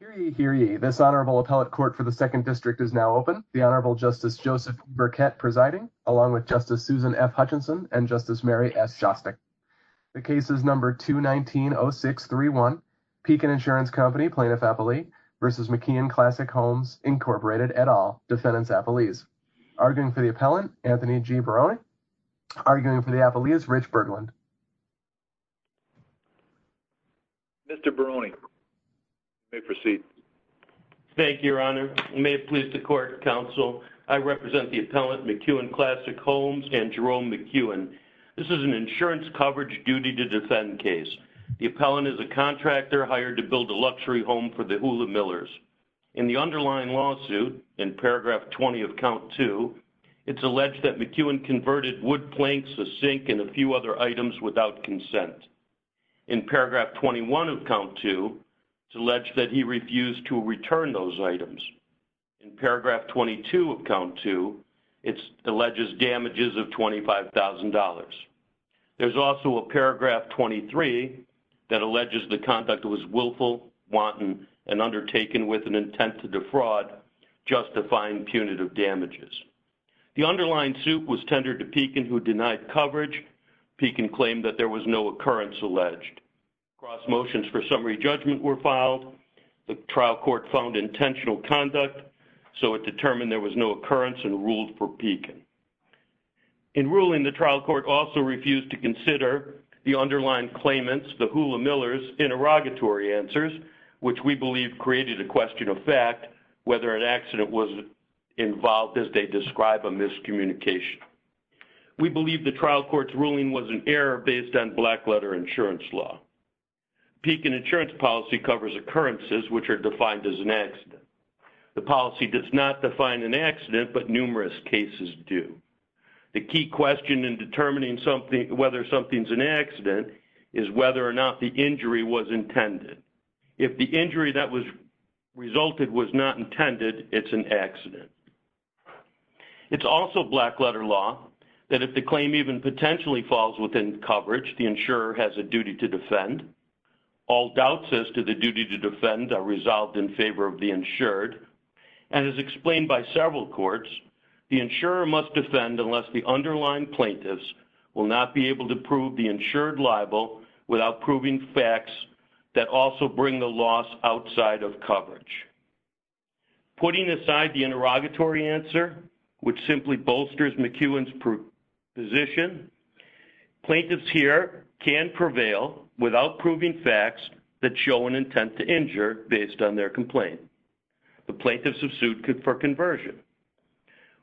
Hear ye, hear ye. This Honorable Appellate Court for the Second District is now open. The Honorable Justice Joseph Burkett presiding, along with Justice Susan F. Hutchinson and Justice Mary S. Shostak. The case is number 219-0631, Pekin Insurance Company, Plaintiff-Appellee v. McKeown Classic Homes, Incorporated, et al., Defendants-Appellees. Arguing for the appellant, Anthony G. Barone. Arguing for the appellee is Rich Bergland. Mr. Barone, you may proceed. Thank you, Your Honor. May it please the Court, Counsel, I represent the appellant McKeown Classic Homes and Jerome McKeown. This is an insurance coverage duty-to-defend case. The appellant is a contractor hired to build a luxury home for the Hula Millers. In the underlying lawsuit, in paragraph 20 of count 2, it's alleged that McKeown converted wood planks, a sink, and a few other items without consent. In paragraph 21 of count 2, it's alleged that he refused to return those items. In paragraph 22 of count 2, it alleges damages of $25,000. There's also a paragraph 23 that alleges the conduct was willful, wanton, and undertaken with an intent to defraud, justifying punitive damages. The Pekin claimed that there was no occurrence alleged. Cross motions for summary judgment were filed. The trial court found intentional conduct, so it determined there was no occurrence and ruled for Pekin. In ruling, the trial court also refused to consider the underlying claimants, the Hula Millers, interrogatory answers, which we believe created a question of fact, whether an accident was involved as they describe a miscommunication. We believe the trial court's ruling was an error based on blackletter insurance law. Pekin insurance policy covers occurrences which are defined as an accident. The policy does not define an accident, but numerous cases do. The key question in determining whether something's an accident is whether or not the injury was intended. If the injury that was resulted was not intended, it's an injury that potentially falls within coverage. The insurer has a duty to defend. All doubts as to the duty to defend are resolved in favor of the insured, and as explained by several courts, the insurer must defend unless the underlying plaintiffs will not be able to prove the insured libel without proving facts that also bring the loss outside of coverage. Putting aside the plaintiffs here can prevail without proving facts that show an intent to injure based on their complaint. The plaintiffs have sued for conversion.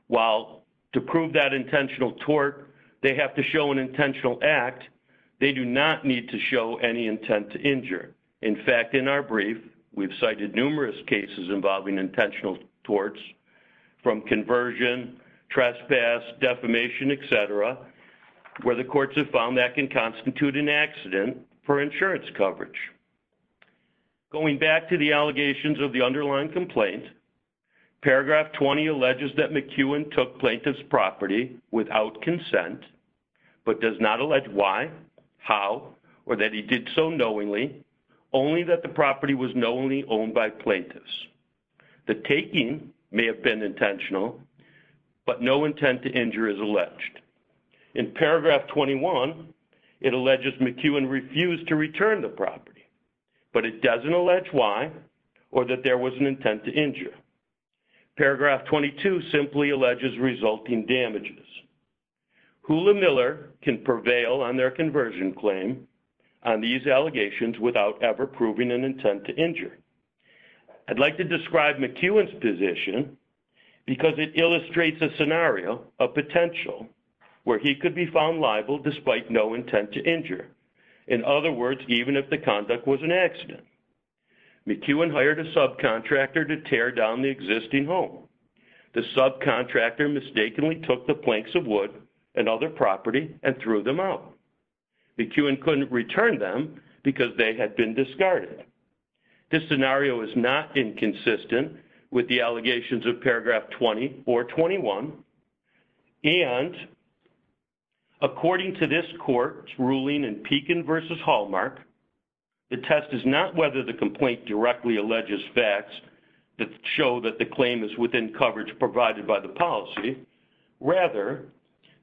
While to prove that intentional tort, they have to show an intentional act, they do not need to show any intent to injure. In fact, in our brief, we've cited numerous cases involving intentional torts from conversion, trespass, defamation, etc., where the courts have found that can constitute an accident for insurance coverage. Going back to the allegations of the underlying complaint, paragraph 20 alleges that McEwen took plaintiff's property without consent, but does not allege why, how, or that he did so knowingly, only that the property was knowingly owned by plaintiffs. The taking may have been intentional, but no intent to injure is alleged. In paragraph 21, it alleges McEwen refused to return the property, but it doesn't allege why or that there was an intent to injure. Paragraph 22 simply alleges resulting damages. Hula Miller can prevail on their conversion claim on these allegations without ever proving an intent to injure. I'd like to describe McEwen's position because it illustrates a scenario of potential where he could be found liable despite no intent to injure. In other words, even if the conduct was an accident. McEwen hired a subcontractor to tear down the existing home. The subcontractor mistakenly took the planks of wood and other property and threw them out. McEwen couldn't return them because they had been discarded. This scenario is not inconsistent with the And, according to this court's ruling in Pekin v. Hallmark, the test is not whether the complaint directly alleges facts that show that the claim is within coverage provided by the policy. Rather,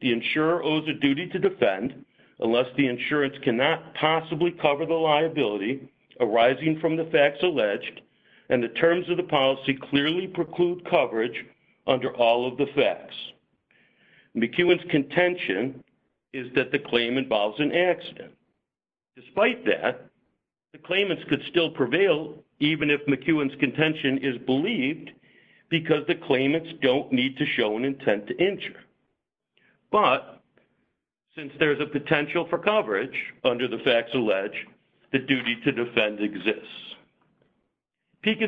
the insurer owes a duty to defend unless the insurance cannot possibly cover the liability arising from the facts alleged and the terms of the policy clearly preclude coverage under all of the facts. McEwen's contention is that the claim involves an accident. Despite that, the claimants could still prevail even if McEwen's contention is believed because the claimants don't need to show an intent to injure. But, since there's a Pekin's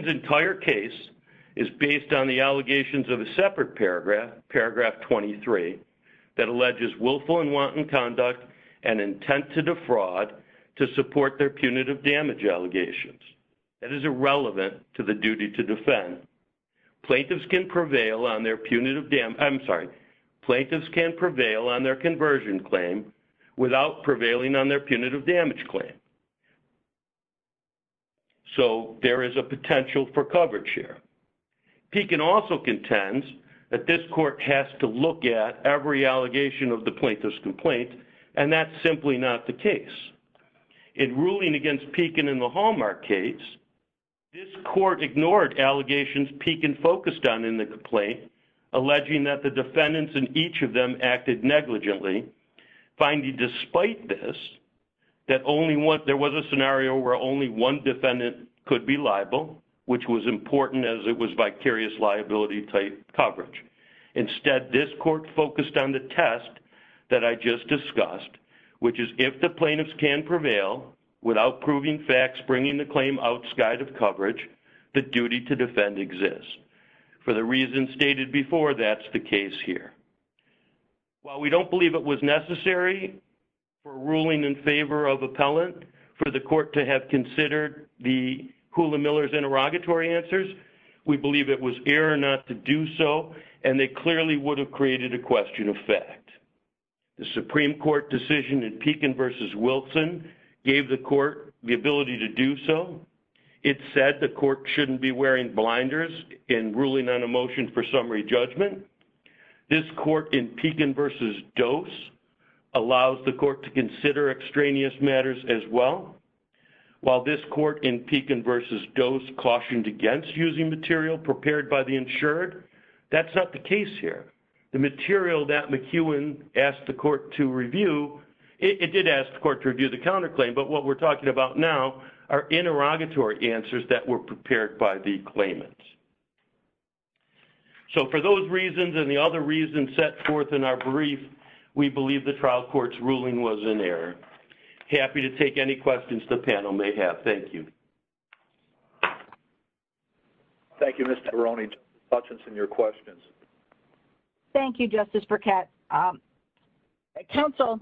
entire case is based on the allegations of a separate paragraph, paragraph 23, that alleges willful and wanton conduct and intent to defraud to support their punitive damage allegations. That is irrelevant to the duty to defend. Plaintiffs can prevail on their punitive damage, I'm sorry, plaintiffs can prevail on their conversion claim without prevailing on their punitive damage claim. So, there is a potential for coverage here. Pekin also contends that this court has to look at every allegation of the plaintiff's complaint and that's simply not the case. In ruling against Pekin in the Hallmark case, this court ignored allegations Pekin focused on in the complaint, alleging that the defendants in each of them acted negligently, finding despite this that only one, there was a scenario where only one defendant could be liable, which was important as it was vicarious liability type coverage. Instead, this court focused on the test that I just discussed, which is if the plaintiffs can prevail without proving facts bringing the claim outside of coverage, the duty to defend exists. For the reasons stated before, that's the ruling in favor of appellant for the court to have considered the Hula Miller's interrogatory answers. We believe it was error not to do so and they clearly would have created a question of fact. The Supreme Court decision in Pekin versus Wilson gave the court the ability to do so. It said the court shouldn't be wearing blinders in ruling on a motion for summary judgment. This court in Pekin versus Dose allows the court to consider extraneous matters as well. While this court in Pekin versus Dose cautioned against using material prepared by the insured, that's not the case here. The material that McEwen asked the court to review, it did ask the court to review the counterclaim, but what we're talking about now are interrogatory answers that were prepared by the claimants. So for those reasons and the other reasons set forth in our brief, we believe the trial court's ruling was in error. Happy to take any questions the panel may have. Thank you. Thank you, Mr. Veroni. Justice Hutchinson, your questions. Thank you, Justice Burkett. Counsel,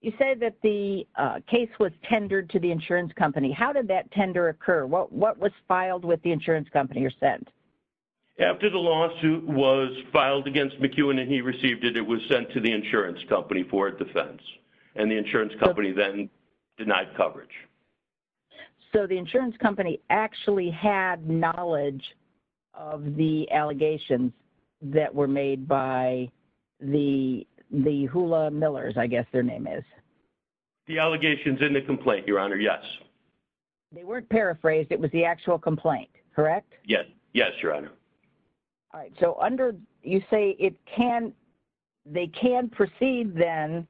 you say that the case was tendered to the insurance company. How did that tender occur? What was filed with the insurance company or sent? After the lawsuit was filed against McEwen and he received it, it was sent to the insurance company for defense and the insurance company then denied coverage. So the insurance company actually had knowledge of the allegations that were made by the the Hula Millers, I guess their name is. The weren't paraphrased, it was the actual complaint, correct? Yes, Your Honor. All right, so under, you say it can, they can proceed then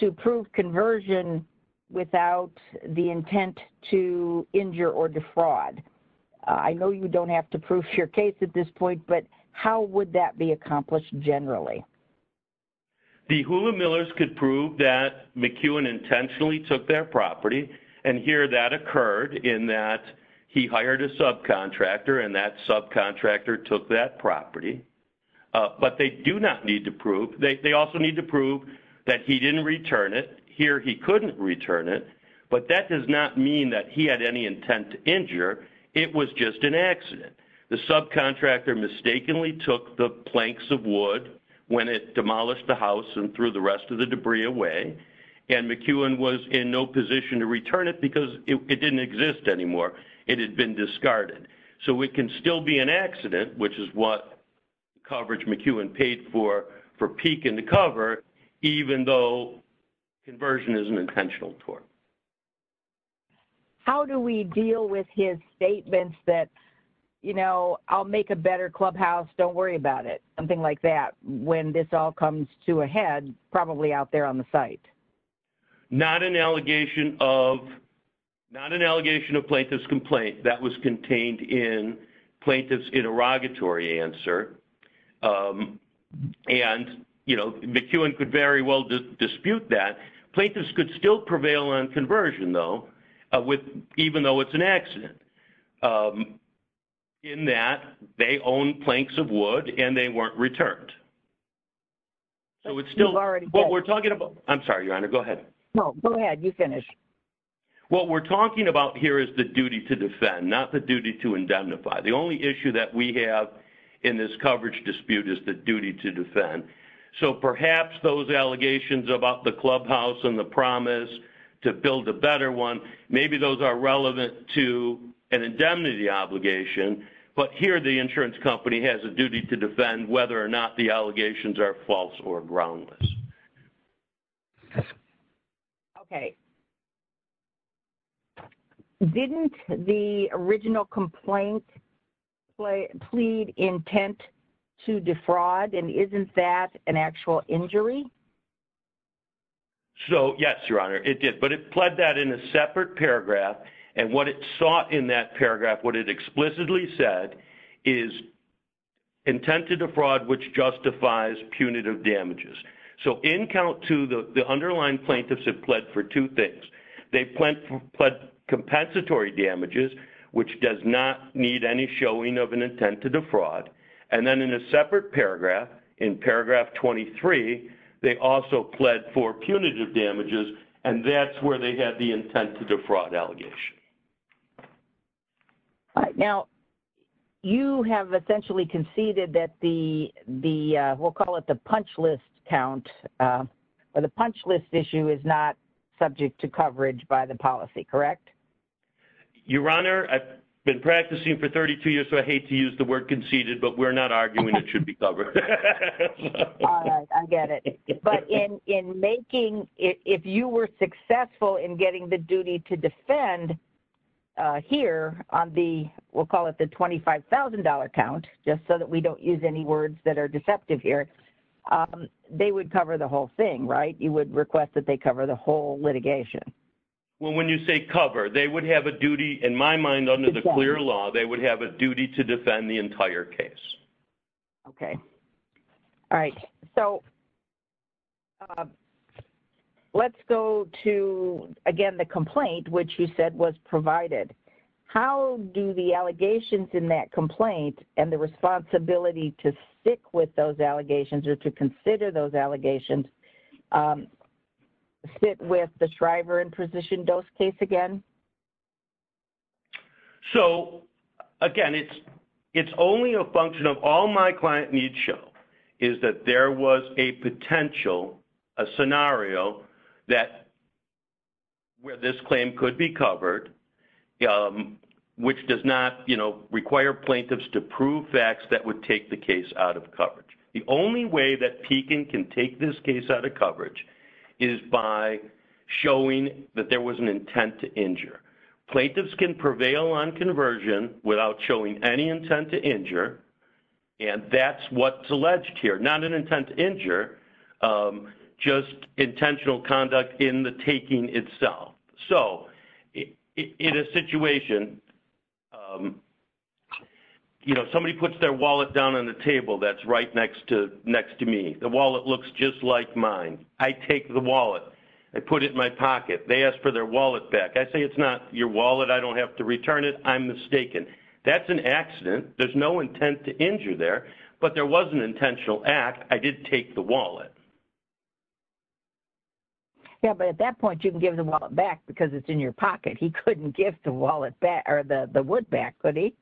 to prove conversion without the intent to injure or defraud. I know you don't have to prove your case at this point, but how would that be accomplished generally? The Hula Millers could prove that McEwen intentionally took their property and here that occurred in that he hired a subcontractor and that subcontractor took that property, but they do not need to prove, they also need to prove that he didn't return it. Here he couldn't return it, but that does not mean that he had any intent to injure, it was just an accident. The subcontractor mistakenly took the planks of wood when it demolished the house and threw the rest of the debris away and McEwen was in no position to return it because it didn't exist anymore, it had been discarded. So it can still be an accident, which is what coverage McEwen paid for for peeking the cover, even though conversion is an intentional tort. How do we deal with his statements that, you know, I'll make a better clubhouse, don't worry about it, something like that, when this all comes to a head, probably out there on the site. Not an allegation of, not an allegation of plaintiff's complaint that was contained in plaintiff's interrogatory answer and, you know, McEwen could very well dispute that. Plaintiffs could still prevail on conversion though, even though it's an accident. In that, they own planks of wood and they weren't returned, so it's still what we're talking about. I'm sorry, Your Honor, go ahead. No, go ahead, you finish. What we're talking about here is the duty to defend, not the duty to indemnify. The only issue that we have in this coverage dispute is the duty to defend. So perhaps those allegations about the clubhouse and the promise to build a better one, maybe those are relevant to an indemnity obligation, but here the insurance company has a duty to defend whether or not the allegations are false or groundless. Okay. Didn't the original complaint plead intent to defraud and isn't that an actual injury? So, yes, Your Honor, it did, but it pled that in a separate paragraph and what it sought in that paragraph, what it explicitly said, is intent to defraud which justifies punitive damages. So in count two, the underlying plaintiffs have pled for two things. They've pled compensatory damages, which does not need any showing of an intent to defraud, and then in a separate paragraph, in count three, they also pled for punitive damages, and that's where they had the intent to defraud allegation. All right. Now, you have essentially conceded that the, we'll call it the punch list count, or the punch list issue is not subject to coverage by the policy, correct? Your Honor, I've been practicing for 32 years, so I hate to use the word conceded, but we're not arguing it should be covered. I get it. But in making, if you were successful in getting the duty to defend here on the, we'll call it the $25,000 count, just so that we don't use any words that are deceptive here, they would cover the whole thing, right? You would request that they cover the whole litigation. Well, when you say cover, they would have a duty, in my mind, under the clear law, they would have a duty to defend the entire case. Okay. All right. So, let's go to, again, the complaint, which you said was provided. How do the allegations in that complaint and the responsibility to stick with those allegations or to consider those allegations sit with the Shriver and Precision Dose case again? So, again, it's only a function of all my client needs show is that there was a potential, a scenario that, where this claim could be covered, which does not, you know, require plaintiffs to prove facts that would take the case out of coverage. The only way that Pekin can take this case out of coverage is by showing that there was an intent to injure. Plaintiffs can prevail on conversion without showing any intent to injure, and that's what's alleged here. Not an intent to injure, just intentional conduct in the taking itself. So, in a situation, you know, somebody puts their wallet down on the table that's right next to me. The wallet looks just like mine. I take the wallet. I put it in my pocket. They ask for their wallet back. I say, it's not your wallet. I don't have to return it. I'm mistaken. That's an accident. There's no intent to injure there, but there was an intentional act. I did take the wallet. Yeah, but at that point, you can give the wallet back because it's in your pocket. He couldn't give the wallet back or the wood back, could he?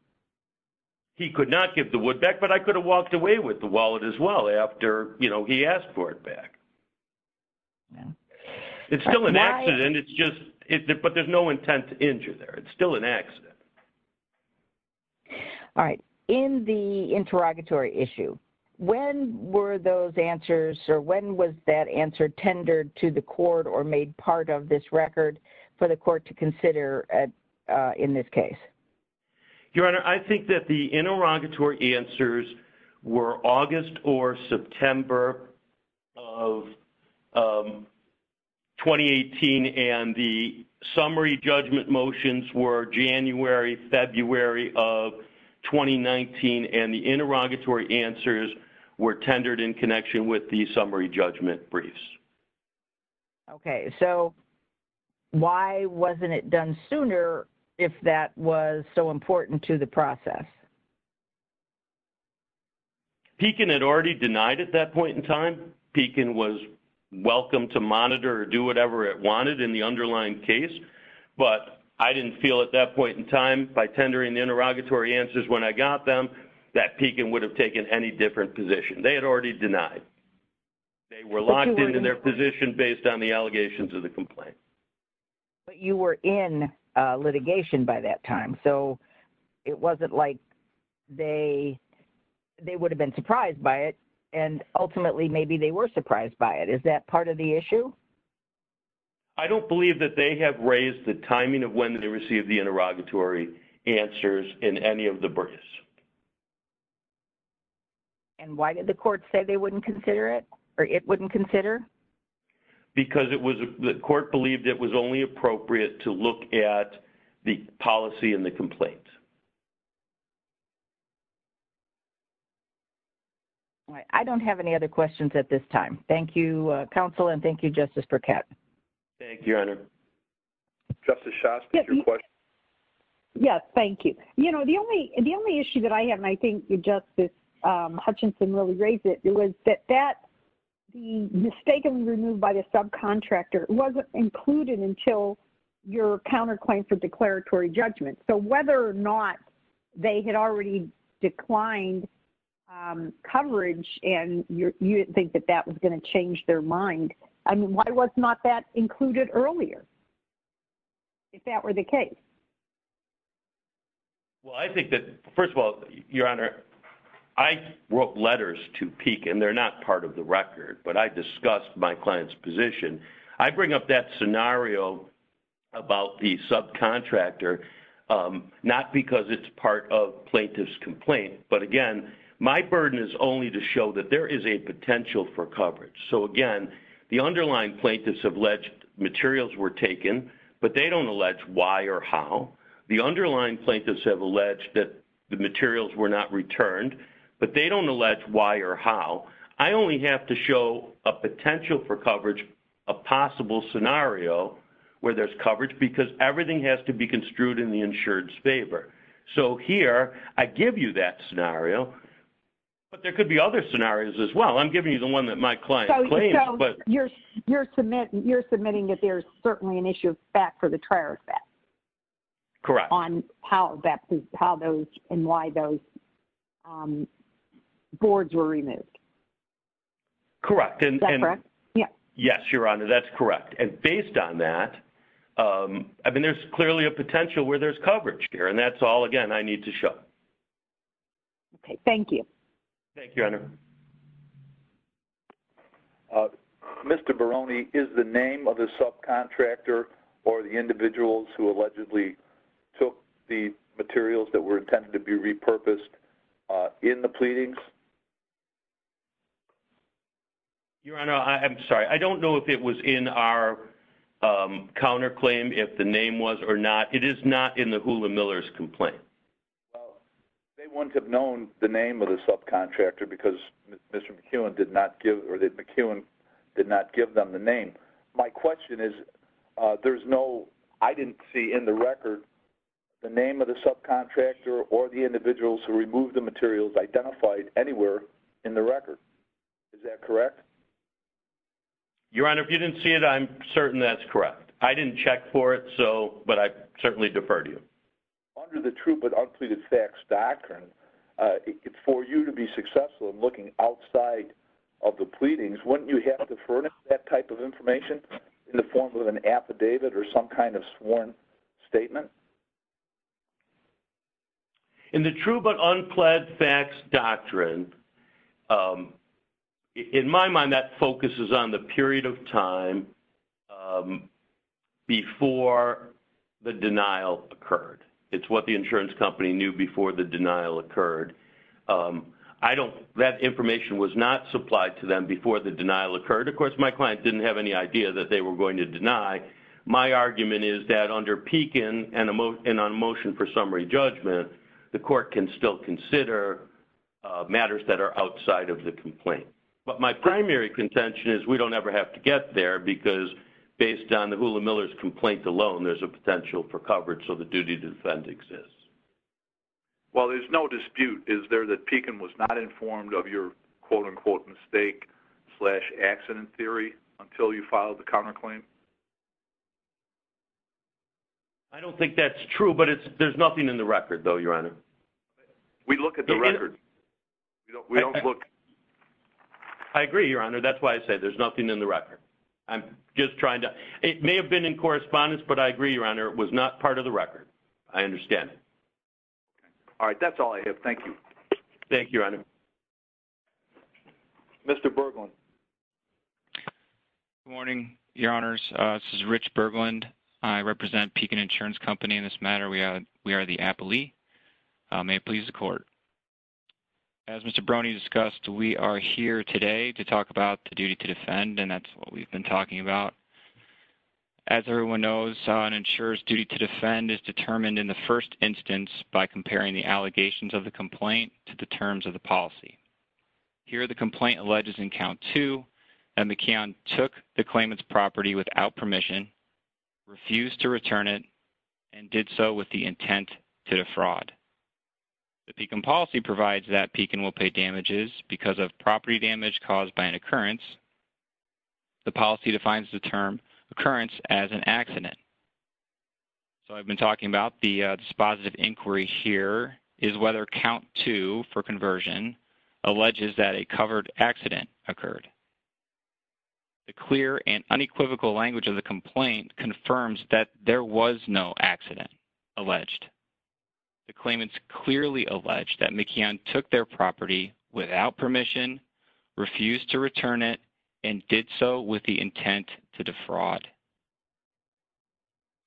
He could not give the wood back, but I could have walked away with the wallet as well after, you know, he asked for it back. It's still an accident. It's just, but there's no intent to injure there. It's still an accident. All right. In the interrogatory issue, when were those answers or when was that answer tendered to the court or made part of this record for the court to consider in this case? Your Honor, I think that the interrogatory answers were August or September of 2018 and the summary judgment motions were January, February of 2019 and the interrogatory answers were tendered in connection with the summary judgment briefs. Okay, so why wasn't it done sooner if that was so important to the process? Pekin had already denied at that point in time. Pekin was welcome to monitor or do whatever it wanted in the underlying case, but I didn't feel at that point in time by tendering the interrogatory answers when I got them that Pekin would have taken any different position. They had already denied. They were locked into their position based on the allegations of the complaint. But you were in litigation by that time, so it wasn't like they would have been surprised by it and ultimately maybe they were surprised by it. Is that part of the issue? I don't believe that they have raised the timing of when they received the interrogatory answers in any of the briefs. And why did the court say they wouldn't consider it or it wouldn't consider? Because the court believed it was only appropriate to look at the policy and the complaint. I don't have any other questions at this time. Thank you, Counsel, and thank you Justice Burkett. Thank you, Honor. Justice Shast is your question? Yes, thank you. You know, the only issue that I have, and I think Justice Hutchinson really raised it, was that that being mistakenly removed by the subcontractor wasn't included until your counterclaim for declaratory judgment. So whether or not they had already declined coverage and you didn't think that that was going to change their mind, I mean, why was not that included earlier? If that were the case. Well, I think that, first of all, Your Honor, I wrote letters to Peek and they're not part of the record, but I discussed my client's position. I bring up that scenario about the subcontractor, not because it's part of plaintiff's complaint, but again, my burden is only to show that there is a potential for coverage. So again, the underlying plaintiffs have alleged materials were taken, but they don't allege why or how. The underlying plaintiffs have alleged that the materials were not returned, but they don't allege why or how. I only have to show a potential for coverage, a possible scenario where there's coverage, because everything has to be construed in the insured's favor. So here, I give you that scenario, but there could be other scenarios as well. I'm giving you the one that my client claims, but... So you're submitting that there's certainly an issue of fact for the trier effect? Correct. On how those and why those boards were removed? Correct. Is that correct? Yes, Your Honor, that's correct. And based on that, I mean, there's clearly a potential where there's coverage here, and that's all, again, I need to show. Okay. Thank you. Thank you, Your Honor. Mr. Barone, is the name of the subcontractor or the individuals who allegedly took the materials that were intended to be repurposed in the pleadings? Your Honor, I'm sorry. I don't know if it was in our counterclaim, if the name was or not. It is not in the Hula Miller's complaint. They wouldn't have known the name of the subcontractor because Mr. McEwen did not give them the name. My question is, there's no... I didn't see in the record the name of the subcontractor or the individuals who removed the materials identified anywhere in the record. Is that correct? Your Honor, if you didn't see it, I'm certain that's correct. I didn't check for it, but I certainly defer to you. Under the true but unpleaded facts doctrine, for you to be successful in looking outside of the pleadings, wouldn't you have to furnish that type of information in the form of an affidavit or some kind of sworn statement? In the true but unpled facts doctrine, in my mind, that focuses on the period of time before the denial occurred. It's what the insurance company knew before the denial occurred. That information was not supplied to them before the denial occurred. Of course, my client didn't have any idea that they were going to deny. My argument is that under Pekin and on motion for summary judgment, the court can still consider matters that are outside of the get there because based on the Hula Miller's complaint alone, there's a potential for coverage, so the duty to defend exists. Well, there's no dispute. Is there that Pekin was not informed of your quote-unquote mistake slash accident theory until you filed the counterclaim? I don't think that's true, but there's nothing in the record, though, Your Honor. We look at the record. We don't look... I agree, Your Honor. That's why I said there's nothing in the record. I'm just trying to... It may have been in correspondence, but I agree, Your Honor. It was not part of the record. I understand it. All right. That's all I have. Thank you. Thank you, Your Honor. Mr. Berglund. Good morning, Your Honors. This is Rich Berglund. I represent Pekin Insurance Company in this matter. We are the appellee. May it please the court. As Mr. Brony discussed, we are here today to talk about the duty to defend, and that's what we've been talking about. As everyone knows, an insurer's duty to defend is determined in the first instance by comparing the allegations of the complaint to the terms of the policy. Here, the complaint alleges in count two that McKeon took the claimant's property without permission, refused to return it, and did so with the intent to defraud. The Pekin policy provides that Pekin will pay damages because of property damage caused by an occurrence. The policy defines the term occurrence as an accident. So I've been talking about this positive inquiry here is whether count two for conversion alleges that a covered accident occurred. The clear and unequivocal language of the complaint confirms that there was no accident alleged. The claimants clearly alleged that McKeon took their property without permission, refused to return it, and did so with the intent to defraud.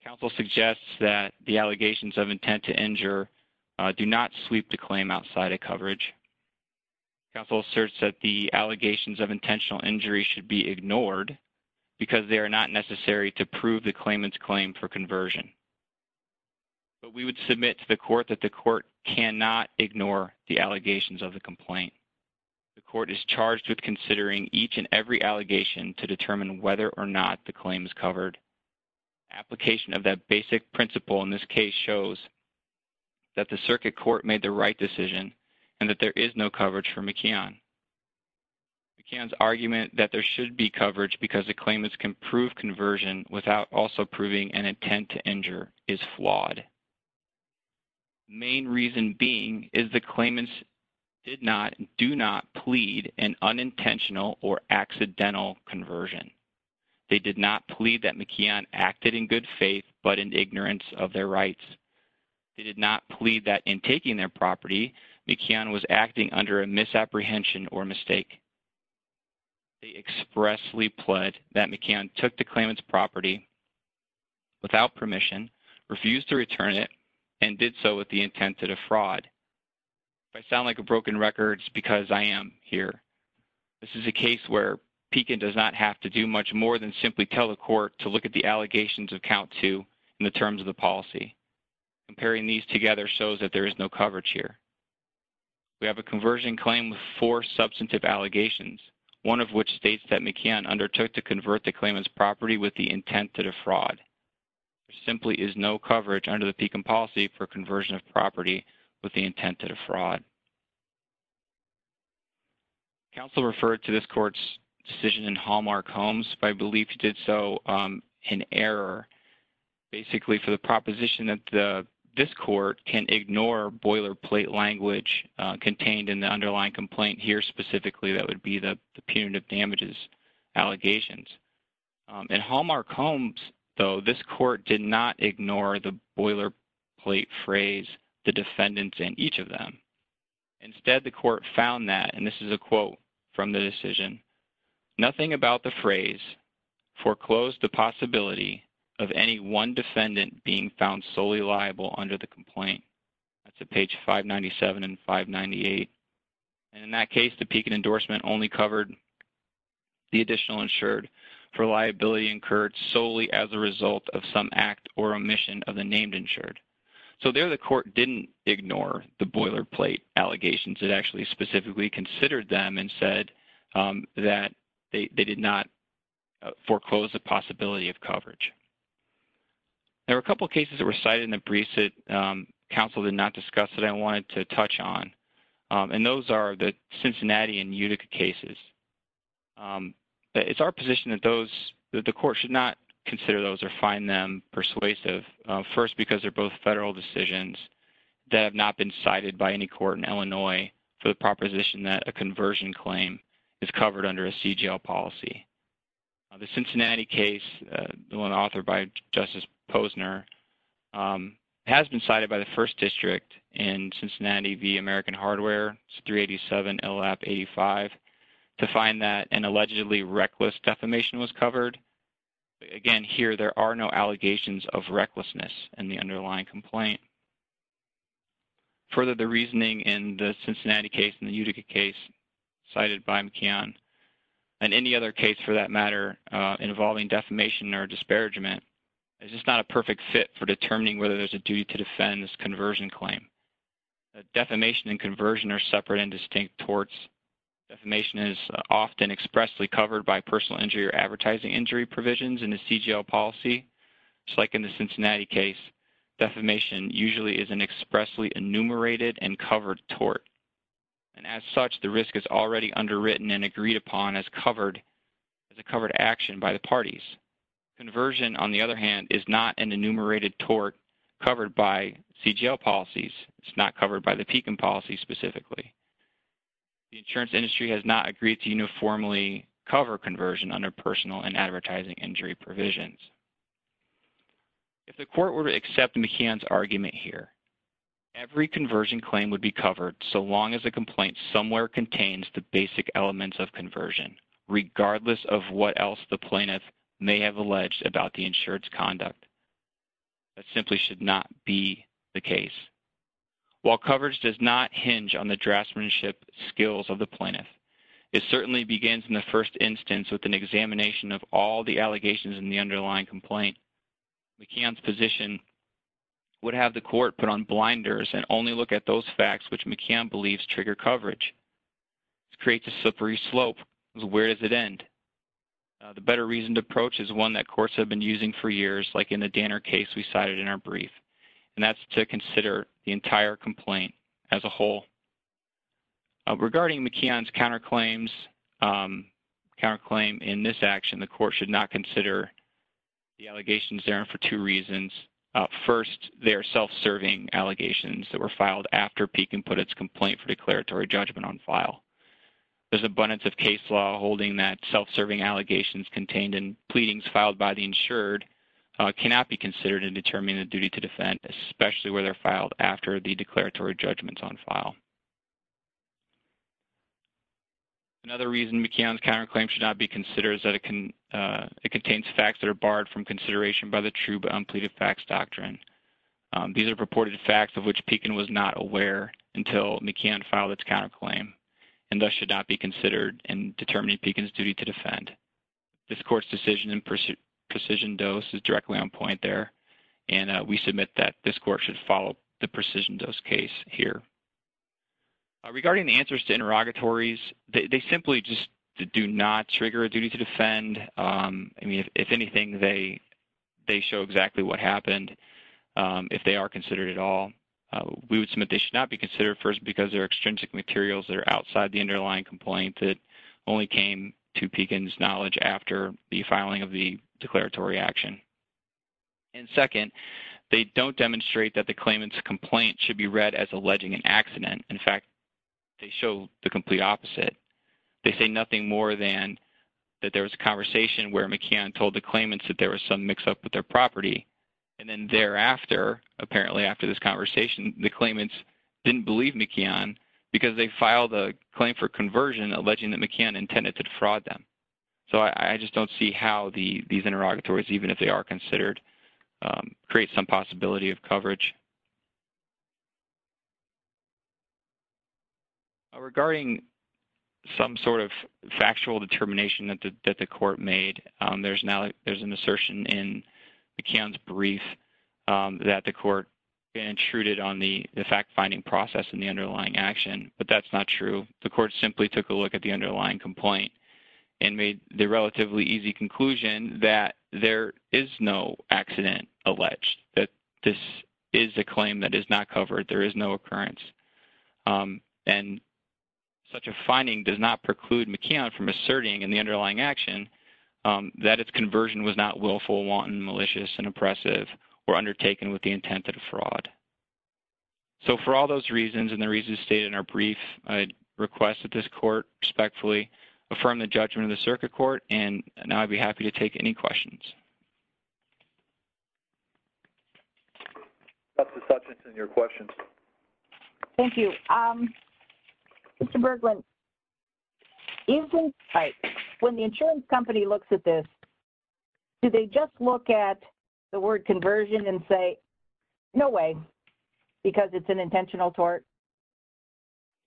Counsel suggests that the allegations of intent to injure do not sweep the claim outside of coverage. Counsel asserts that the allegations of intentional injury should be ignored because they are not necessary to prove the claimant's claim for conversion. But we would submit to the court that the court cannot ignore the allegations of the complaint. The court is charged with considering each and every allegation to determine whether or not the claim is covered. Application of that basic principle in this case shows that the circuit court made the right decision and that there is no coverage for McKeon. McKeon's argument that there should be coverage because the claimants can prove conversion without also proving an intent to injure is flawed. Main reason being is the claimants did not, do not plead an unintentional or accidental conversion. They did not plead that McKeon acted in good faith but in ignorance of their rights. They did not plead that in taking their property, McKeon was acting under a misapprehension or mistake. They expressly pled that McKeon took the claimant's property without permission, refused to return it, and did so with the intent to defraud. If I sound like a broken record, it's because I am here. This is a case where Pekin does not have to do much more than simply tell the court to look at the allegations of count two in the terms of the policy. Comparing these together shows that there is no coverage here. We have a conversion claim with four substantive allegations, one of which states that McKeon undertook to convert the claimant's property with the intent to defraud. There simply is no coverage under the Pekin policy for conversion of property with the intent to defraud. Counsel referred to this court's decision in Hallmark Holmes, but I believe he did so in error, basically for the proposition that this court can ignore boilerplate language contained in the underlying complaint here specifically, that would be the punitive damages allegations. In Hallmark Holmes, though, this court did not ignore the boilerplate phrase, the defendants, and each of them. Instead, the court found that, and this is a quote from the decision, nothing about the phrase foreclosed the possibility of any one defendant being found solely liable under the complaint. This is page 597 and 598. In that case, the Pekin endorsement only covered the additional insured for liability incurred solely as a result of some act or omission of the named insured. There, the court did not ignore the boilerplate allegations. It actually specifically considered them and said that they did not foreclose the possibility of coverage. There were a couple of cases that were cited in the briefs that counsel did not discuss that I wanted to touch on, and those are the Cincinnati and Utica cases. It's our position that those, that the court should not consider those or find them persuasive, first because they're both federal decisions that have not been cited by any court in Illinois for the proposition that a conversion claim is covered under a CGL policy. The Cincinnati case, the one authored by Justice Posner, has been cited by the first district in Cincinnati v. American Hardware, 387 LAP 85, to find that an allegedly reckless defamation was covered. Again, here, there are no allegations of recklessness in the underlying complaint. Further, the reasoning in the Cincinnati case and the Utica case cited by McKeon and any other case for that matter involving defamation or disparagement is just not a perfect fit for determining whether there's a duty to defend this conversion claim. Defamation and conversion are separate and distinct torts. Defamation is often expressly covered by personal injury or advertising injury provisions in the CGL policy. Just like in the Cincinnati case, defamation usually is an expressly enumerated and covered tort. And as such, the risk is already underwritten and agreed upon as a covered action by the parties. Conversion, on the other hand, is not an enumerated tort covered by CGL policies. It's not covered by the PECOM policy specifically. The insurance industry has not agreed to uniformly cover conversion under personal and advertising injury provisions. If the court were to accept McKeon's argument here, every conversion claim would be covered so long as a complaint somewhere contains the basic elements of conversion, regardless of what else the plaintiff may have alleged about the insured's conduct. That simply should not be the case. While coverage does not hinge on the draftsmanship skills of the plaintiff, it certainly begins in the first instance with an examination of all the allegations in the underlying complaint. McKeon's position would have the court put on blinders and only look at those facts which McKeon believes trigger coverage. It creates a slippery slope. Where does it end? The better reasoned approach is one that courts have been using for years, like in the Danner case we cited in our brief. And that's to consider the entire complaint as a whole. Regarding McKeon's counterclaims, counterclaim in this action, the court should not consider the allegations therein for two reasons. First, they are self-serving allegations that were filed after Peek and Puttitt's complaint for declaratory judgment on file. There's abundance of case law holding that self-serving allegations contained in pleadings filed by the insured cannot be considered in determining the duty to defend, especially where they're filed after the declaratory judgment's on file. Another reason McKeon's counterclaim should not be considered is that it contains facts that are barred from consideration by the true but unpleaded facts doctrine. These are purported facts of which Peek and Puttitt was not aware until McKeon filed its counterclaim and thus should not be considered in determining Peek and Puttitt's duty to defend. This court's decision in precision dose is directly on point there, and we submit that this court should follow the precision dose case here. Regarding the answers to interrogatories, they simply just do not trigger a duty to defend. I mean, if anything, they show exactly what happened if they are considered at all. We would submit they should not be considered first because they're extrinsic materials that are outside the underlying complaint that only came to Peek and's knowledge after the filing of the declaratory action. And second, they don't demonstrate that the claimant's complaint should be read as alleging an accident. In fact, they show the complete opposite. They say nothing more than that there was a conversation where McKeon told the claimants that there was some mix up with their property. And then thereafter, apparently after this conversation, the claimants didn't believe McKeon because they filed a claim for conversion alleging that McKeon intended to defraud them. So I just don't see how these interrogatories, even if they are considered, create some possibility of coverage. Regarding some sort of factual determination that the court made, there's now there's an assertion in McKeon's brief that the court intruded on the fact finding process in the underlying action. But that's not true. The court simply took a look at the underlying complaint and made the relatively easy conclusion that there is no accident alleged, that this is a claim that is not covered, there is no occurrence. And such a finding does not preclude McKeon from asserting in the underlying action that its conversion was not willful, wanton, malicious, and oppressive or undertaken with the intent of fraud. So for all those reasons and the reasons stated in our brief, I request that this court respectfully affirm the judgment of the circuit court and now I'd be happy to take any questions. Dr. Sutchinson, your question. Thank you. Mr. Berglund, when the insurance company looks at this, do they just look at the word conversion and say, no way, because it's an intentional tort?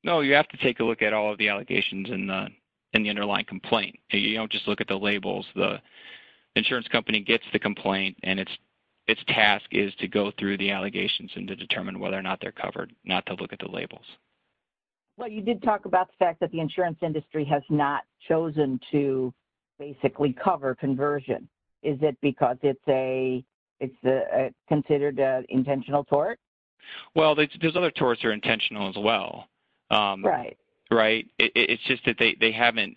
No, you have to take a look at all of the allegations in the underlying complaint. You don't just look at the labels. The insurance company gets the complaint and its task is to go through the allegations and to determine whether or not they're covered, not to look at the labels. Well, you did talk about the fact that the insurance industry has not chosen to basically cover conversion. Is it because it's considered an intentional tort? Well, those other torts are intentional as well. Right. Right. It's just that they haven't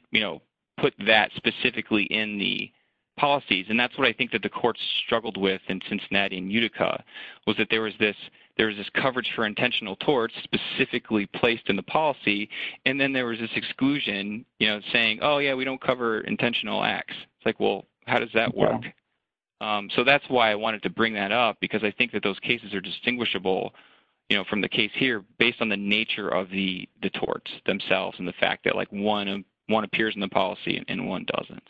put that specifically in the policies and that's what I think that the courts struggled with in Cincinnati and Utica was that there was this coverage for intentional torts specifically placed in the policy and then there was this exclusion saying, oh, yeah, we don't cover intentional acts. It's like, well, how does that work? So that's why I wanted to bring that up because I think that those cases are distinguishable from the case here based on the nature of the torts themselves and the fact that one appears in the policy and one doesn't.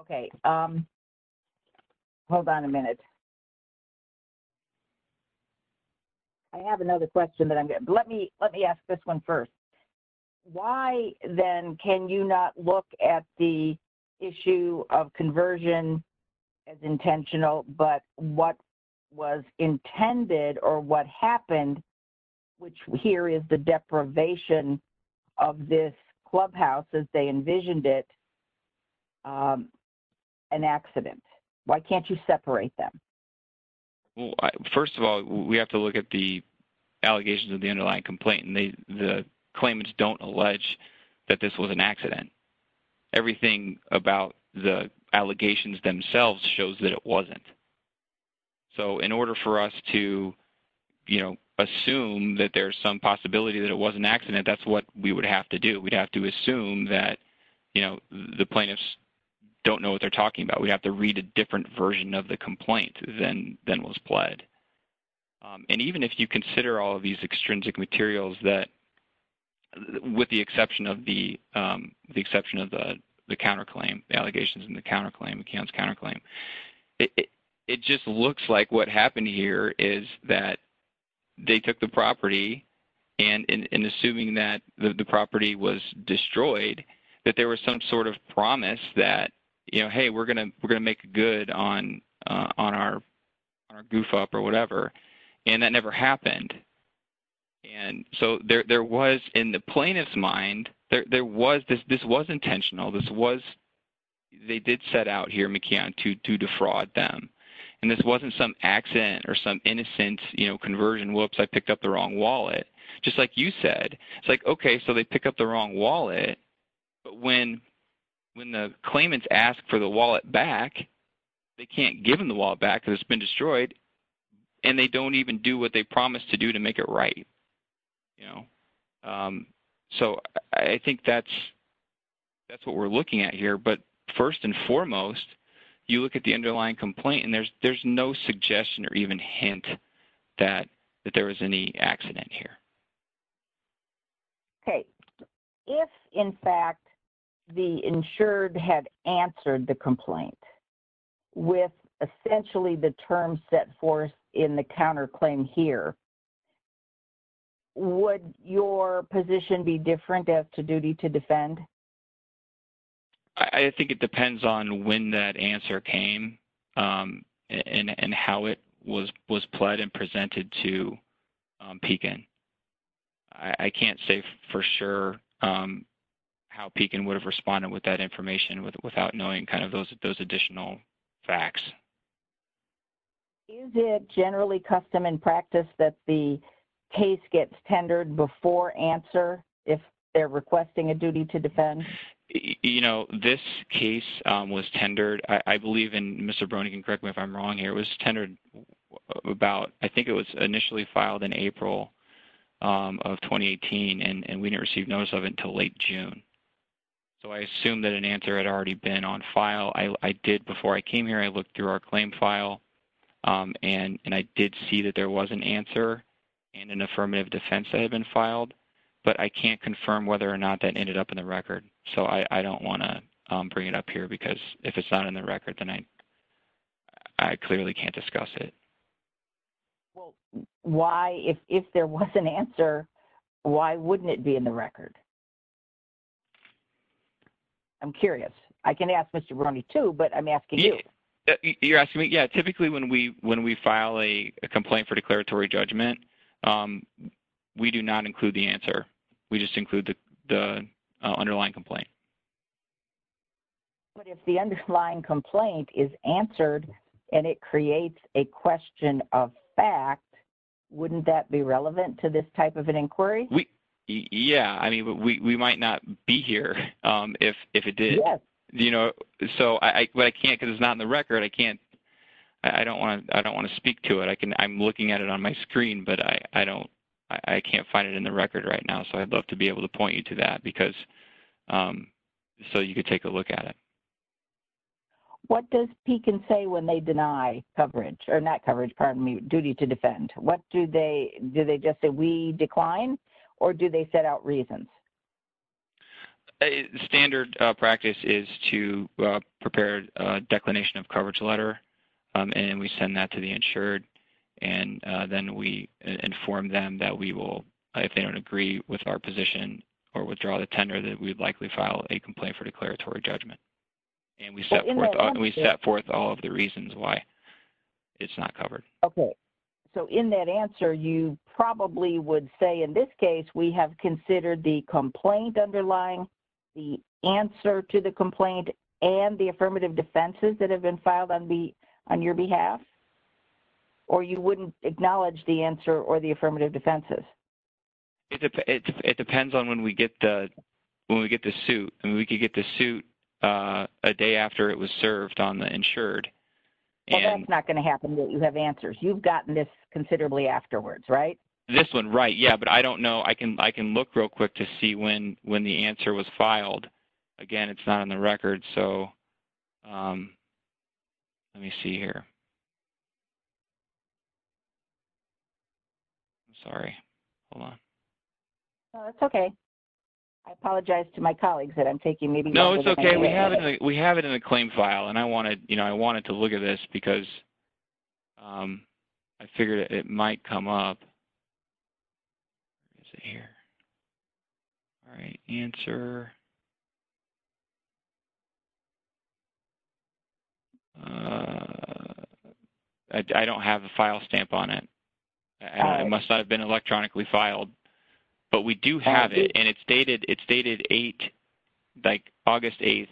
Okay. Hold on a minute. I have another question that I'm going to let me let me ask this one first. Why then can you not look at the issue of conversion as intentional, but what was intended or what happened, which here is the deprivation of this clubhouse as they envisioned it, an accident? Why can't you separate them? Well, first of all, we have to look at the allegations of the underlying complaint and the claimants don't allege that this was an accident. Everything about the allegations themselves shows that it wasn't. So in order for us to, you know, assume that there's some possibility that it was an accident, that's what we would have to do. We'd have to assume that, you know, the plaintiffs don't know what they're And even if you consider all of these extrinsic materials that with the exception of the exception of the counterclaim allegations in the counterclaim accounts, counterclaim, it just looks like what happened here is that they took the property and in assuming that the property was destroyed, that there was some sort of promise that, you know, hey, we're on our goof up or whatever. And that never happened. And so there was in the plaintiff's mind, there was this, this was intentional. This was, they did set out here, McKeon, to defraud them. And this wasn't some accident or some innocent, you know, conversion, whoops, I picked up the wrong wallet. Just like you said, it's like, okay, so they pick up the wrong wallet. But when the claimants ask for the wallet back, they can't give them the wallet back because it's been destroyed. And they don't even do what they promised to do to make it right. You know, so I think that's, that's what we're looking at here. But first and foremost, you look at the underlying complaint and there's, there's no suggestion or even hint that, that there was any accident here. Okay. If, in fact, the insured had answered the complaint with essentially the term set forth in the counterclaim here, would your position be different as to duty to defend? I think it depends on when that answer came and how it was, was pled and presented to Pekin. I can't say for sure how Pekin would have responded with that information without knowing kind of those additional facts. Is it generally custom and practice that the case gets tendered before answer if they're requesting a duty to defend? You know, this case was tendered, I believe, and Mr. Brony can correct me if I'm wrong here, it was tendered about, I think it was initially filed in April of 2018 and we didn't receive notice of it until late June. So I assume that an answer had already been on file. I did, before I came here, I looked through our claim file and I did see that there was an answer and an affirmative defense that had been filed, but I can't confirm whether or not that ended up in the record. So I don't want to bring it up here because if it's not in the record, then I clearly can't discuss it. Well, why, if there was an answer, why wouldn't it be in the record? I'm curious. I can ask Mr. Brony too, but I'm asking you. You're asking me? Yeah, typically when we file a complaint for declaratory judgment, we do not include the answer. We just include the underlying complaint. But if the underlying complaint is answered and it creates a question of fact, wouldn't that be relevant to this type of an inquiry? Yeah, I mean, we might not be here if it did. But I can't, because it's not in the record, I can't, I don't want to speak to it. I'm looking at it on my screen, but I can't find it in the record right now. So I'd love to be able to point you to that so you could take a look at it. What does PECAN say when they deny coverage, or not coverage, pardon me, duty to defend? Do they just say we decline, or do they set out reasons? Standard practice is to prepare a declination of coverage letter, and we send that to the insured, and then we inform them that we will, if they don't agree with our position or withdraw the tender, that we'd likely file a complaint for declaratory judgment. And we set forth all of the reasons why it's not covered. Okay. So in that answer, you probably would say in this case, we have considered the complaint underlying, the answer to the complaint, and the affirmative defenses that have been filed on your behalf? Or you wouldn't acknowledge the answer or the affirmative defenses? It depends on when we get the suit. I mean, we could get the suit a day after it was served on the insured. Well, that's not going to happen, that you have answers. You've gotten this considerably afterwards, right? This one, right. Yeah, but I don't know. I can look real quick to see when the answer was filed. Again, it's not in the record, so let me see here. I'm sorry. Hold on. No, it's okay. I apologize to my colleagues that I'm taking maybe- No, it's okay. We have it in the claim file, and I wanted to look at this, because I figured it might come up. Let's see here. All right. Answer. I don't have a file stamp on it. It must not have been electronically filed, but we do have it, and it's dated August 8th,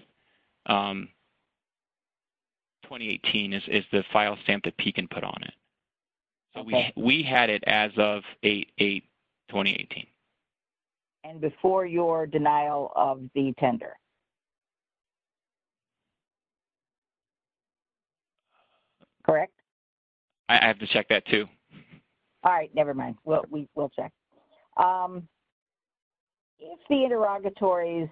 2018 is the file stamp that PECAN put on it. So we had it as of August 8th, 2018. And before your denial of the tender. Correct? I have to check that, too. All right. Never mind. We'll check. If the interrogatories,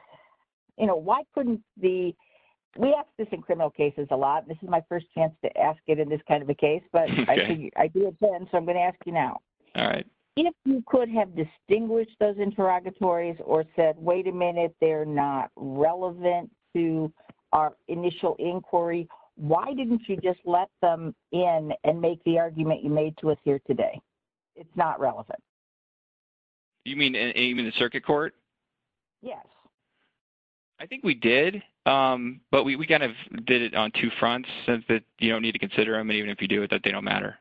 you know, why couldn't the-we ask this in criminal cases a lot. This is my first chance to ask it in this kind of a case, but I do attend, so I'm going to ask you now. All right. If you could have distinguished those interrogatories or said, wait a minute, they're not relevant to our initial inquiry, why didn't you just let them in and make the argument you made to us here today? It's not relevant. You mean in the circuit court? Yes. I think we did, but we kind of did it on two fronts, since you don't need to consider them, even if you do, that they don't matter.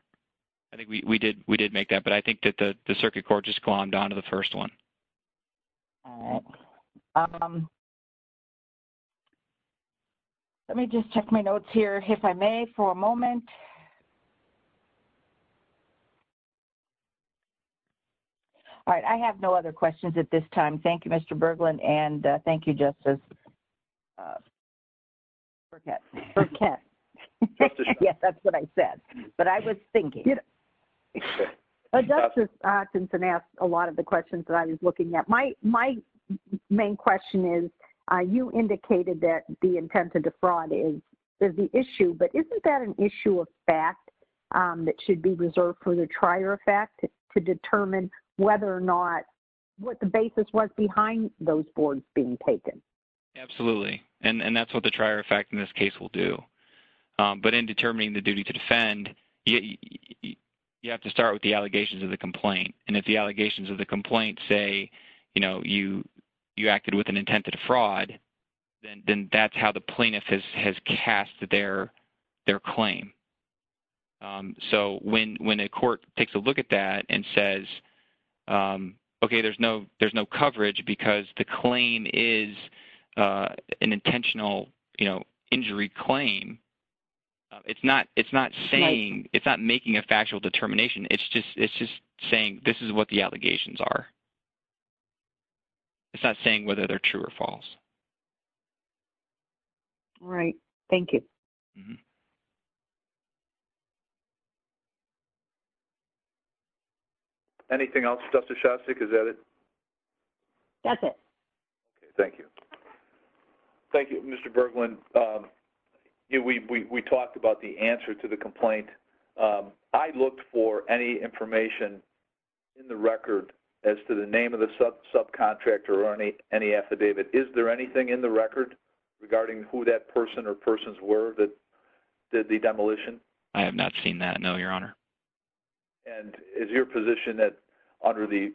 I think we did make that, but I think that the circuit court just glommed on to the first one. All right. Let me just check my notes here, if I may, for a moment. All right. I have no other questions at this time. Thank you, Mr. Berglund, and thank you, Justice Burkett. Yes, that's what I said. But I was thinking. Justice Hutchinson asked a lot of the questions that I was looking at. My main question is, you indicated that the intent to defraud is the issue, but isn't that an issue of fact that should be reserved for the trier effect to determine whether or not, what the basis was behind those boards being taken? Absolutely. And that's what the trier effect in this case will do. But in determining the duty to defend, you have to start with the allegations of the complaint. And if the allegations of the complaint say, you know, you acted with an intent to defraud, then that's how the plaintiff has cast their claim. So when a court takes a look at that and says, okay, there's no coverage because the claim is an intentional, you know, injury claim, it's not saying, it's not making a factual determination. It's just saying this is what the allegations are. It's not saying whether they're true or false. All right. Thank you. Anything else, Justice Shostak, is that it? That's it. Okay. Thank you. Thank you, Mr. Berglund. We talked about the answer to the complaint. I looked for any information in the record as to the name of the subcontractor or any affidavit. that, you know, the demolition. I have not seen that. No, Your Honor. And is your position that under the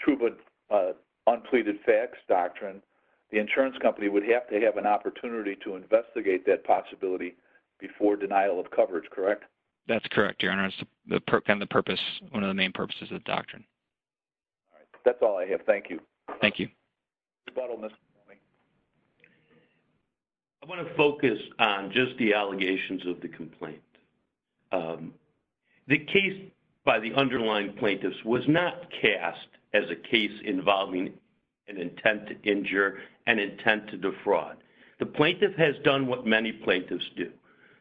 true but unpleaded facts doctrine, the insurance company would have to have an opportunity to investigate that possibility before denial of coverage, correct? That's correct, Your Honor. It's kind of the purpose. One of the main purposes of the doctrine. All right. That's all I have. Thank you. Thank you. Mr. Butler. I want to focus on just the allegations of the complaint. The case by the underlying plaintiffs was not cast as a case involving an intent to injure and intent to defraud. The plaintiff has done what many plaintiffs do.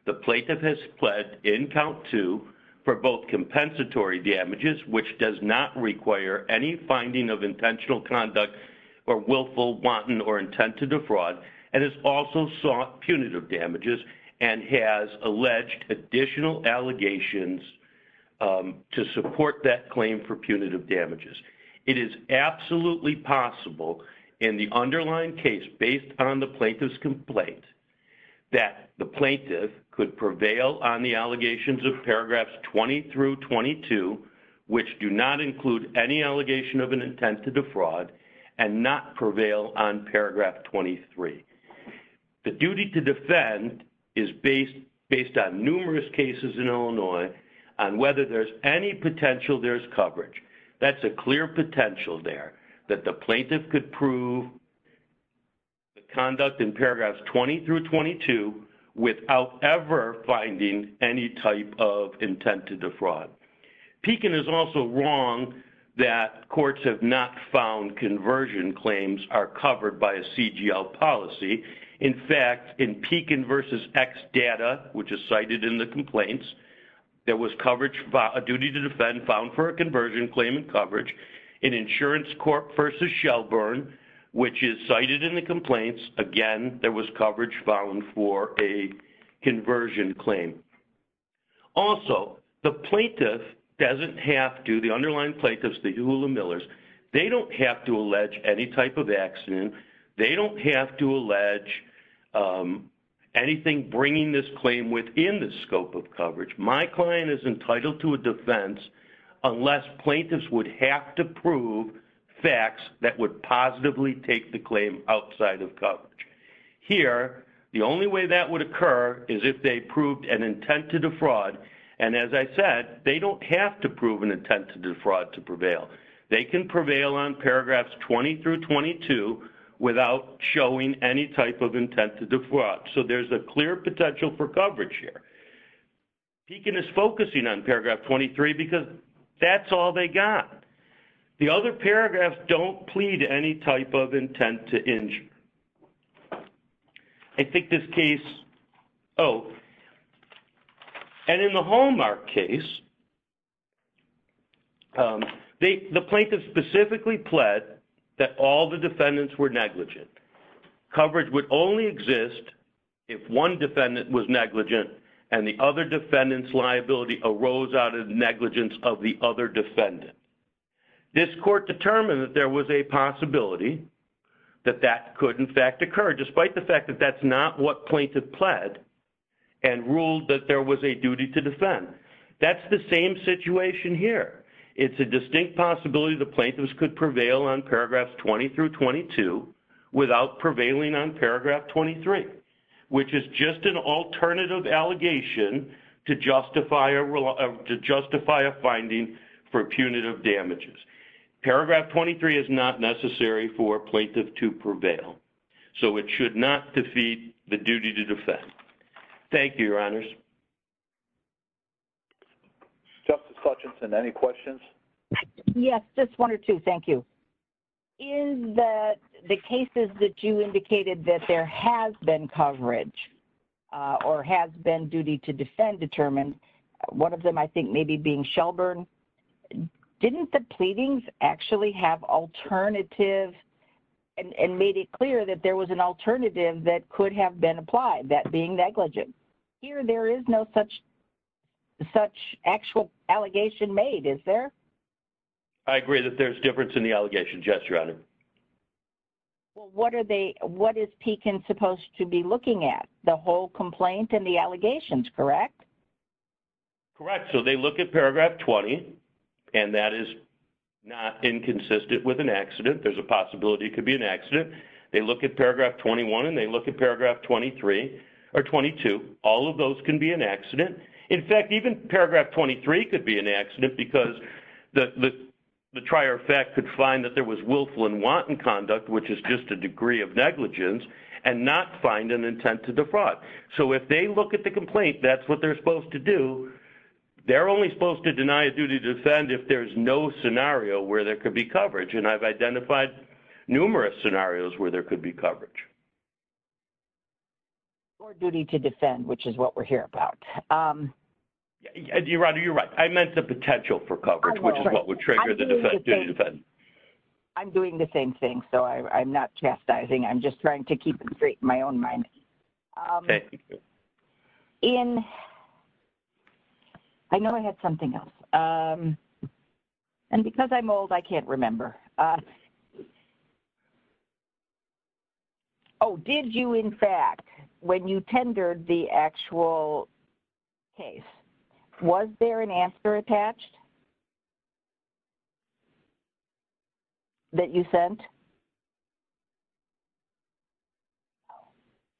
The plaintiff has pled in count two for both compensatory damages, which does not require any finding of intentional conduct or willful wanton or intent to defraud, and has also sought punitive damages and has alleged additional allegations to support that claim for punitive damages. It is absolutely possible in the underlying case, based on the plaintiff's complaint, that the plaintiff could prevail on the allegations of paragraphs 20 through 22, which do not include any allegation of an intent to defraud, and not prevail on paragraph 23. The duty to defend is based on numerous cases in Illinois on whether there's any potential there's coverage. That's a clear potential there, that the plaintiff could prove the conduct in paragraphs 20 through 22 without ever finding any type of intent to defraud. Pekin is also wrong that courts have not found conversion claims are covered by a CGL policy. In fact, in Pekin versus X data, which is cited in the complaints, there was coverage by a duty to defend found for a conversion claim and coverage in insurance court versus Shelburne, which is cited in the complaints. Again, there was coverage found for a conversion claim. Also, the plaintiff doesn't have to, the underlying plaintiffs, the Hewlett-Millers, they don't have to allege any type of accident. They don't have to allege anything bringing this claim within the scope of coverage. My client is entitled to a defense unless plaintiffs would have to prove facts that would positively take the claim outside of coverage. Here, the only way that would occur is if they proved an intent to defraud. And as I said, they don't have to prove an intent to defraud to prevail. They can prevail on paragraphs 20 through 22 without showing any type of intent to defraud. So there's a clear potential for coverage here. Pekin is focusing on paragraph 23 because that's all they got. The other paragraphs don't plead any type of intent to injure. I think this case, oh, and in the Hallmark case, the plaintiff specifically pled that all the defendants were negligent. Coverage would only exist if one defendant was negligent and the other defendant's liability arose out of negligence of the other defendant. This court determined that there was a possibility that that could, in fact, occur despite the fact that that's not what plaintiff pled and ruled that there was a duty to defend. That's the same situation here. It's a distinct possibility the plaintiffs could prevail on paragraphs 20 through 22 without prevailing on paragraph 23, which is just an alternative allegation to justify a finding for punitive damages. Paragraph 23 is not necessary for a plaintiff to prevail, so it should not defeat the duty to defend. Thank you, Your Honors. Justice Hutchinson, any questions? Yes, just one or two. Thank you. In the cases that you indicated that there has been coverage or has been duty to defend determined, one of them I think maybe being Shelburne, didn't the pleadings actually have alternative and made it clear that there was an alternative that could have been applied, that being negligent? Here there is no such actual allegation made, is there? I agree that there's difference in the allegation, yes, Your Honor. Well, what is Pekin supposed to be looking at, the whole complaint and the allegations, correct? Correct, so they look at Paragraph 20, and that is not inconsistent with an accident, there's a possibility it could be an accident. They look at Paragraph 21 and they look at Paragraph 23 or 22, all of those can be an accident. In fact, even Paragraph 23 could be an accident because the trier of fact could find that there was willful and wanton conduct, which is just a degree of negligence, and not find an intent to defraud. So if they look at the complaint, that's what they're supposed to do. They're only supposed to deny a duty to defend if there's no scenario where there could be coverage, and I've identified numerous scenarios where there could be coverage. Or duty to defend, which is what we're here about. Your Honor, you're right, I meant the potential for coverage, which is what would trigger the duty to defend. I'm doing the same thing, so I'm not chastising, I'm just trying to keep it straight in my own mind. Okay. Ian, I know I had something else. And because I'm old, I can't remember. Oh, did you, in fact, when you tendered the actual case, was there an answer attached? That you sent?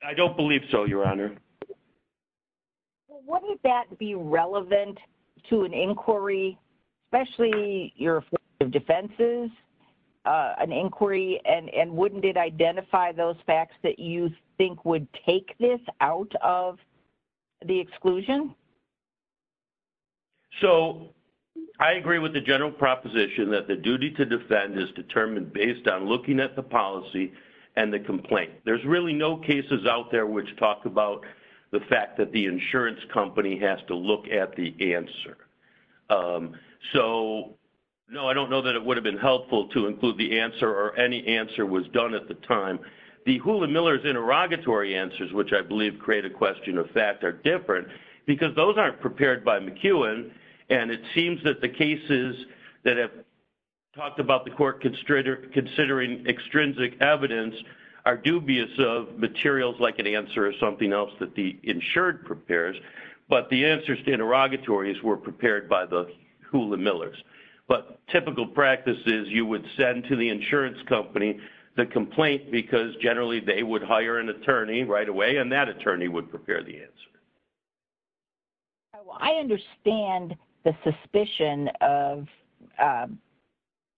I don't believe so, Your Honor. Well, wouldn't that be relevant to an inquiry, especially your affirmative defenses, an inquiry, and wouldn't it identify those facts that you think would take this out of the exclusion? So, I agree with the general proposition that the duty to defend is determined based on looking at the policy and the complaint. There's really no cases out there which talk about the fact that the insurance company has to look at the answer. So, no, I don't know that it would have been helpful to include the answer or any answer was done at the time. The Hula Miller's interrogatory answers, which I believe create a question of fact, are different because those aren't prepared by McEwen, and it seems that the cases that have talked about the court considering extrinsic evidence are dubious of materials like an answer or something else that the insured prepares, but the answers to interrogatories were prepared by the Hula Miller's. But typical practice is you would send to the insurance company the complaint because generally they would hire an attorney right away, and that attorney would prepare the answer. I understand the suspicion of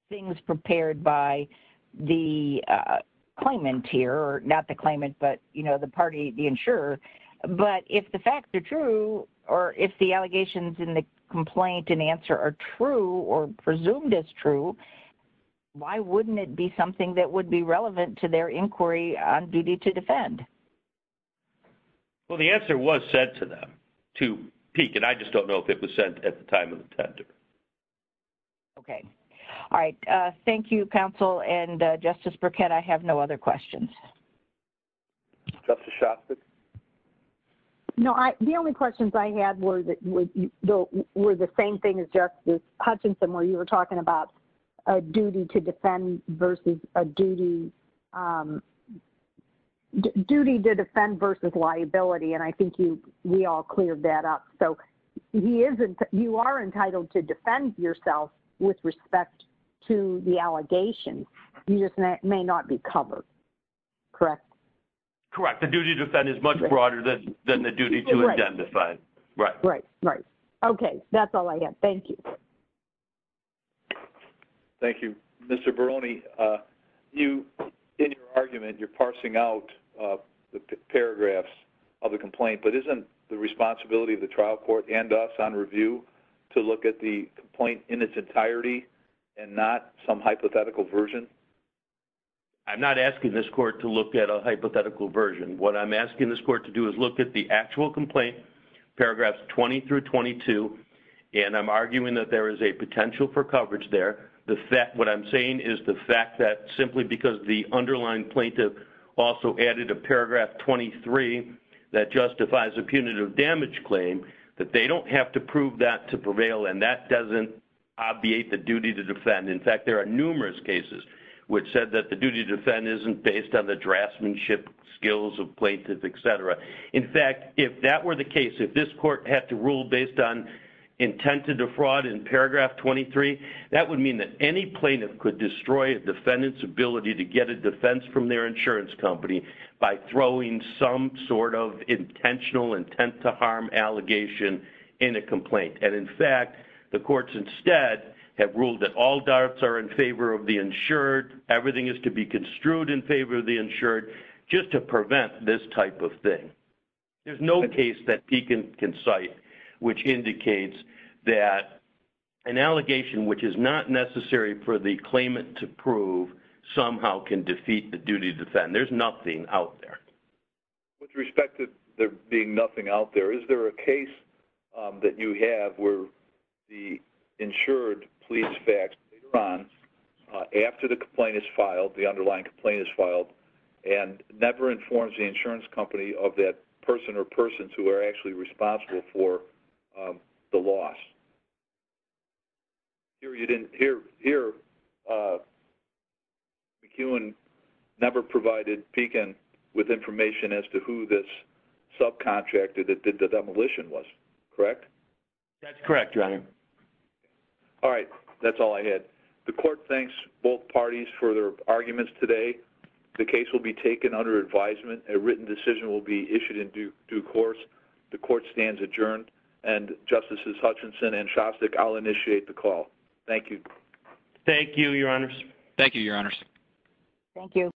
things prepared by the claimant here, or not the claimant, but the party, the insurer. But if the facts are true, or if the allegations in the complaint and answer are true, or presumed as true, why wouldn't it be something that would be relevant to their inquiry on duty to defend? Well, the answer was sent to them to peek, and I just don't know if it was sent at the time of the tender. Okay. All right. Thank you, counsel and Justice Burkett. I have no other questions. Justice Shostak. No, the only questions I had were the same thing as Justice Hutchinson, where you were talking about a duty to defend versus a duty, duty to defend versus liability. And I think you, we all cleared that up. So he isn't, you are entitled to defend yourself with respect to the allegations. You just may not be covered. Correct. Correct. The duty to defend is much broader than, than the duty to identify. Right. Right. Right. Okay. That's all I have. Thank you. Thank you, Mr. Baroni. You, in your argument, you're parsing out the paragraphs of the complaint, but isn't the responsibility of the trial court and us on review to look at the complaint in its entirety and not some hypothetical version? I'm not asking this court to look at a hypothetical version. What I'm asking this court to do is look at the actual complaint, paragraphs 20 through 22. And I'm arguing that there is a potential for coverage there. The fact, what I'm saying is the fact that simply because the underlying plaintiff also added a paragraph 23 that justifies a punitive damage claim, that they don't have to prove that to prevail. And that doesn't obviate the duty to defend. In fact, there are numerous cases which said that the duty to defend isn't based on the draftsmanship skills of plaintiffs, et cetera. In fact, if that were the case, if this court had to rule based on intent to defraud in paragraph 23, that would mean that any plaintiff could destroy a defendant's ability to get a claim by throwing some sort of intentional intent to harm allegation in a complaint. And in fact, the courts instead have ruled that all darts are in favor of the insured. Everything is to be construed in favor of the insured just to prevent this type of thing. There's no case that Pekin can cite, which indicates that an allegation, which is not necessary for the claimant to prove somehow can defeat the duty to defend. There's nothing out there with respect to there being nothing out there. Is there a case that you have where the insured police facts later on after the complaint is filed, the underlying complaint is filed and never informs the insurance company of that person or persons who are actually responsible for the loss period. And here, McEwen never provided Pekin with information as to who this subcontractor that did the demolition was correct. That's correct. All right. That's all I had. The court thanks both parties for their arguments today. The case will be taken under advisement. A written decision will be issued in due course. The court stands adjourned and justices Hutchinson and Shostak. I'll initiate the call. Thank you. Thank you, your honors. Thank you, your honors. Thank you.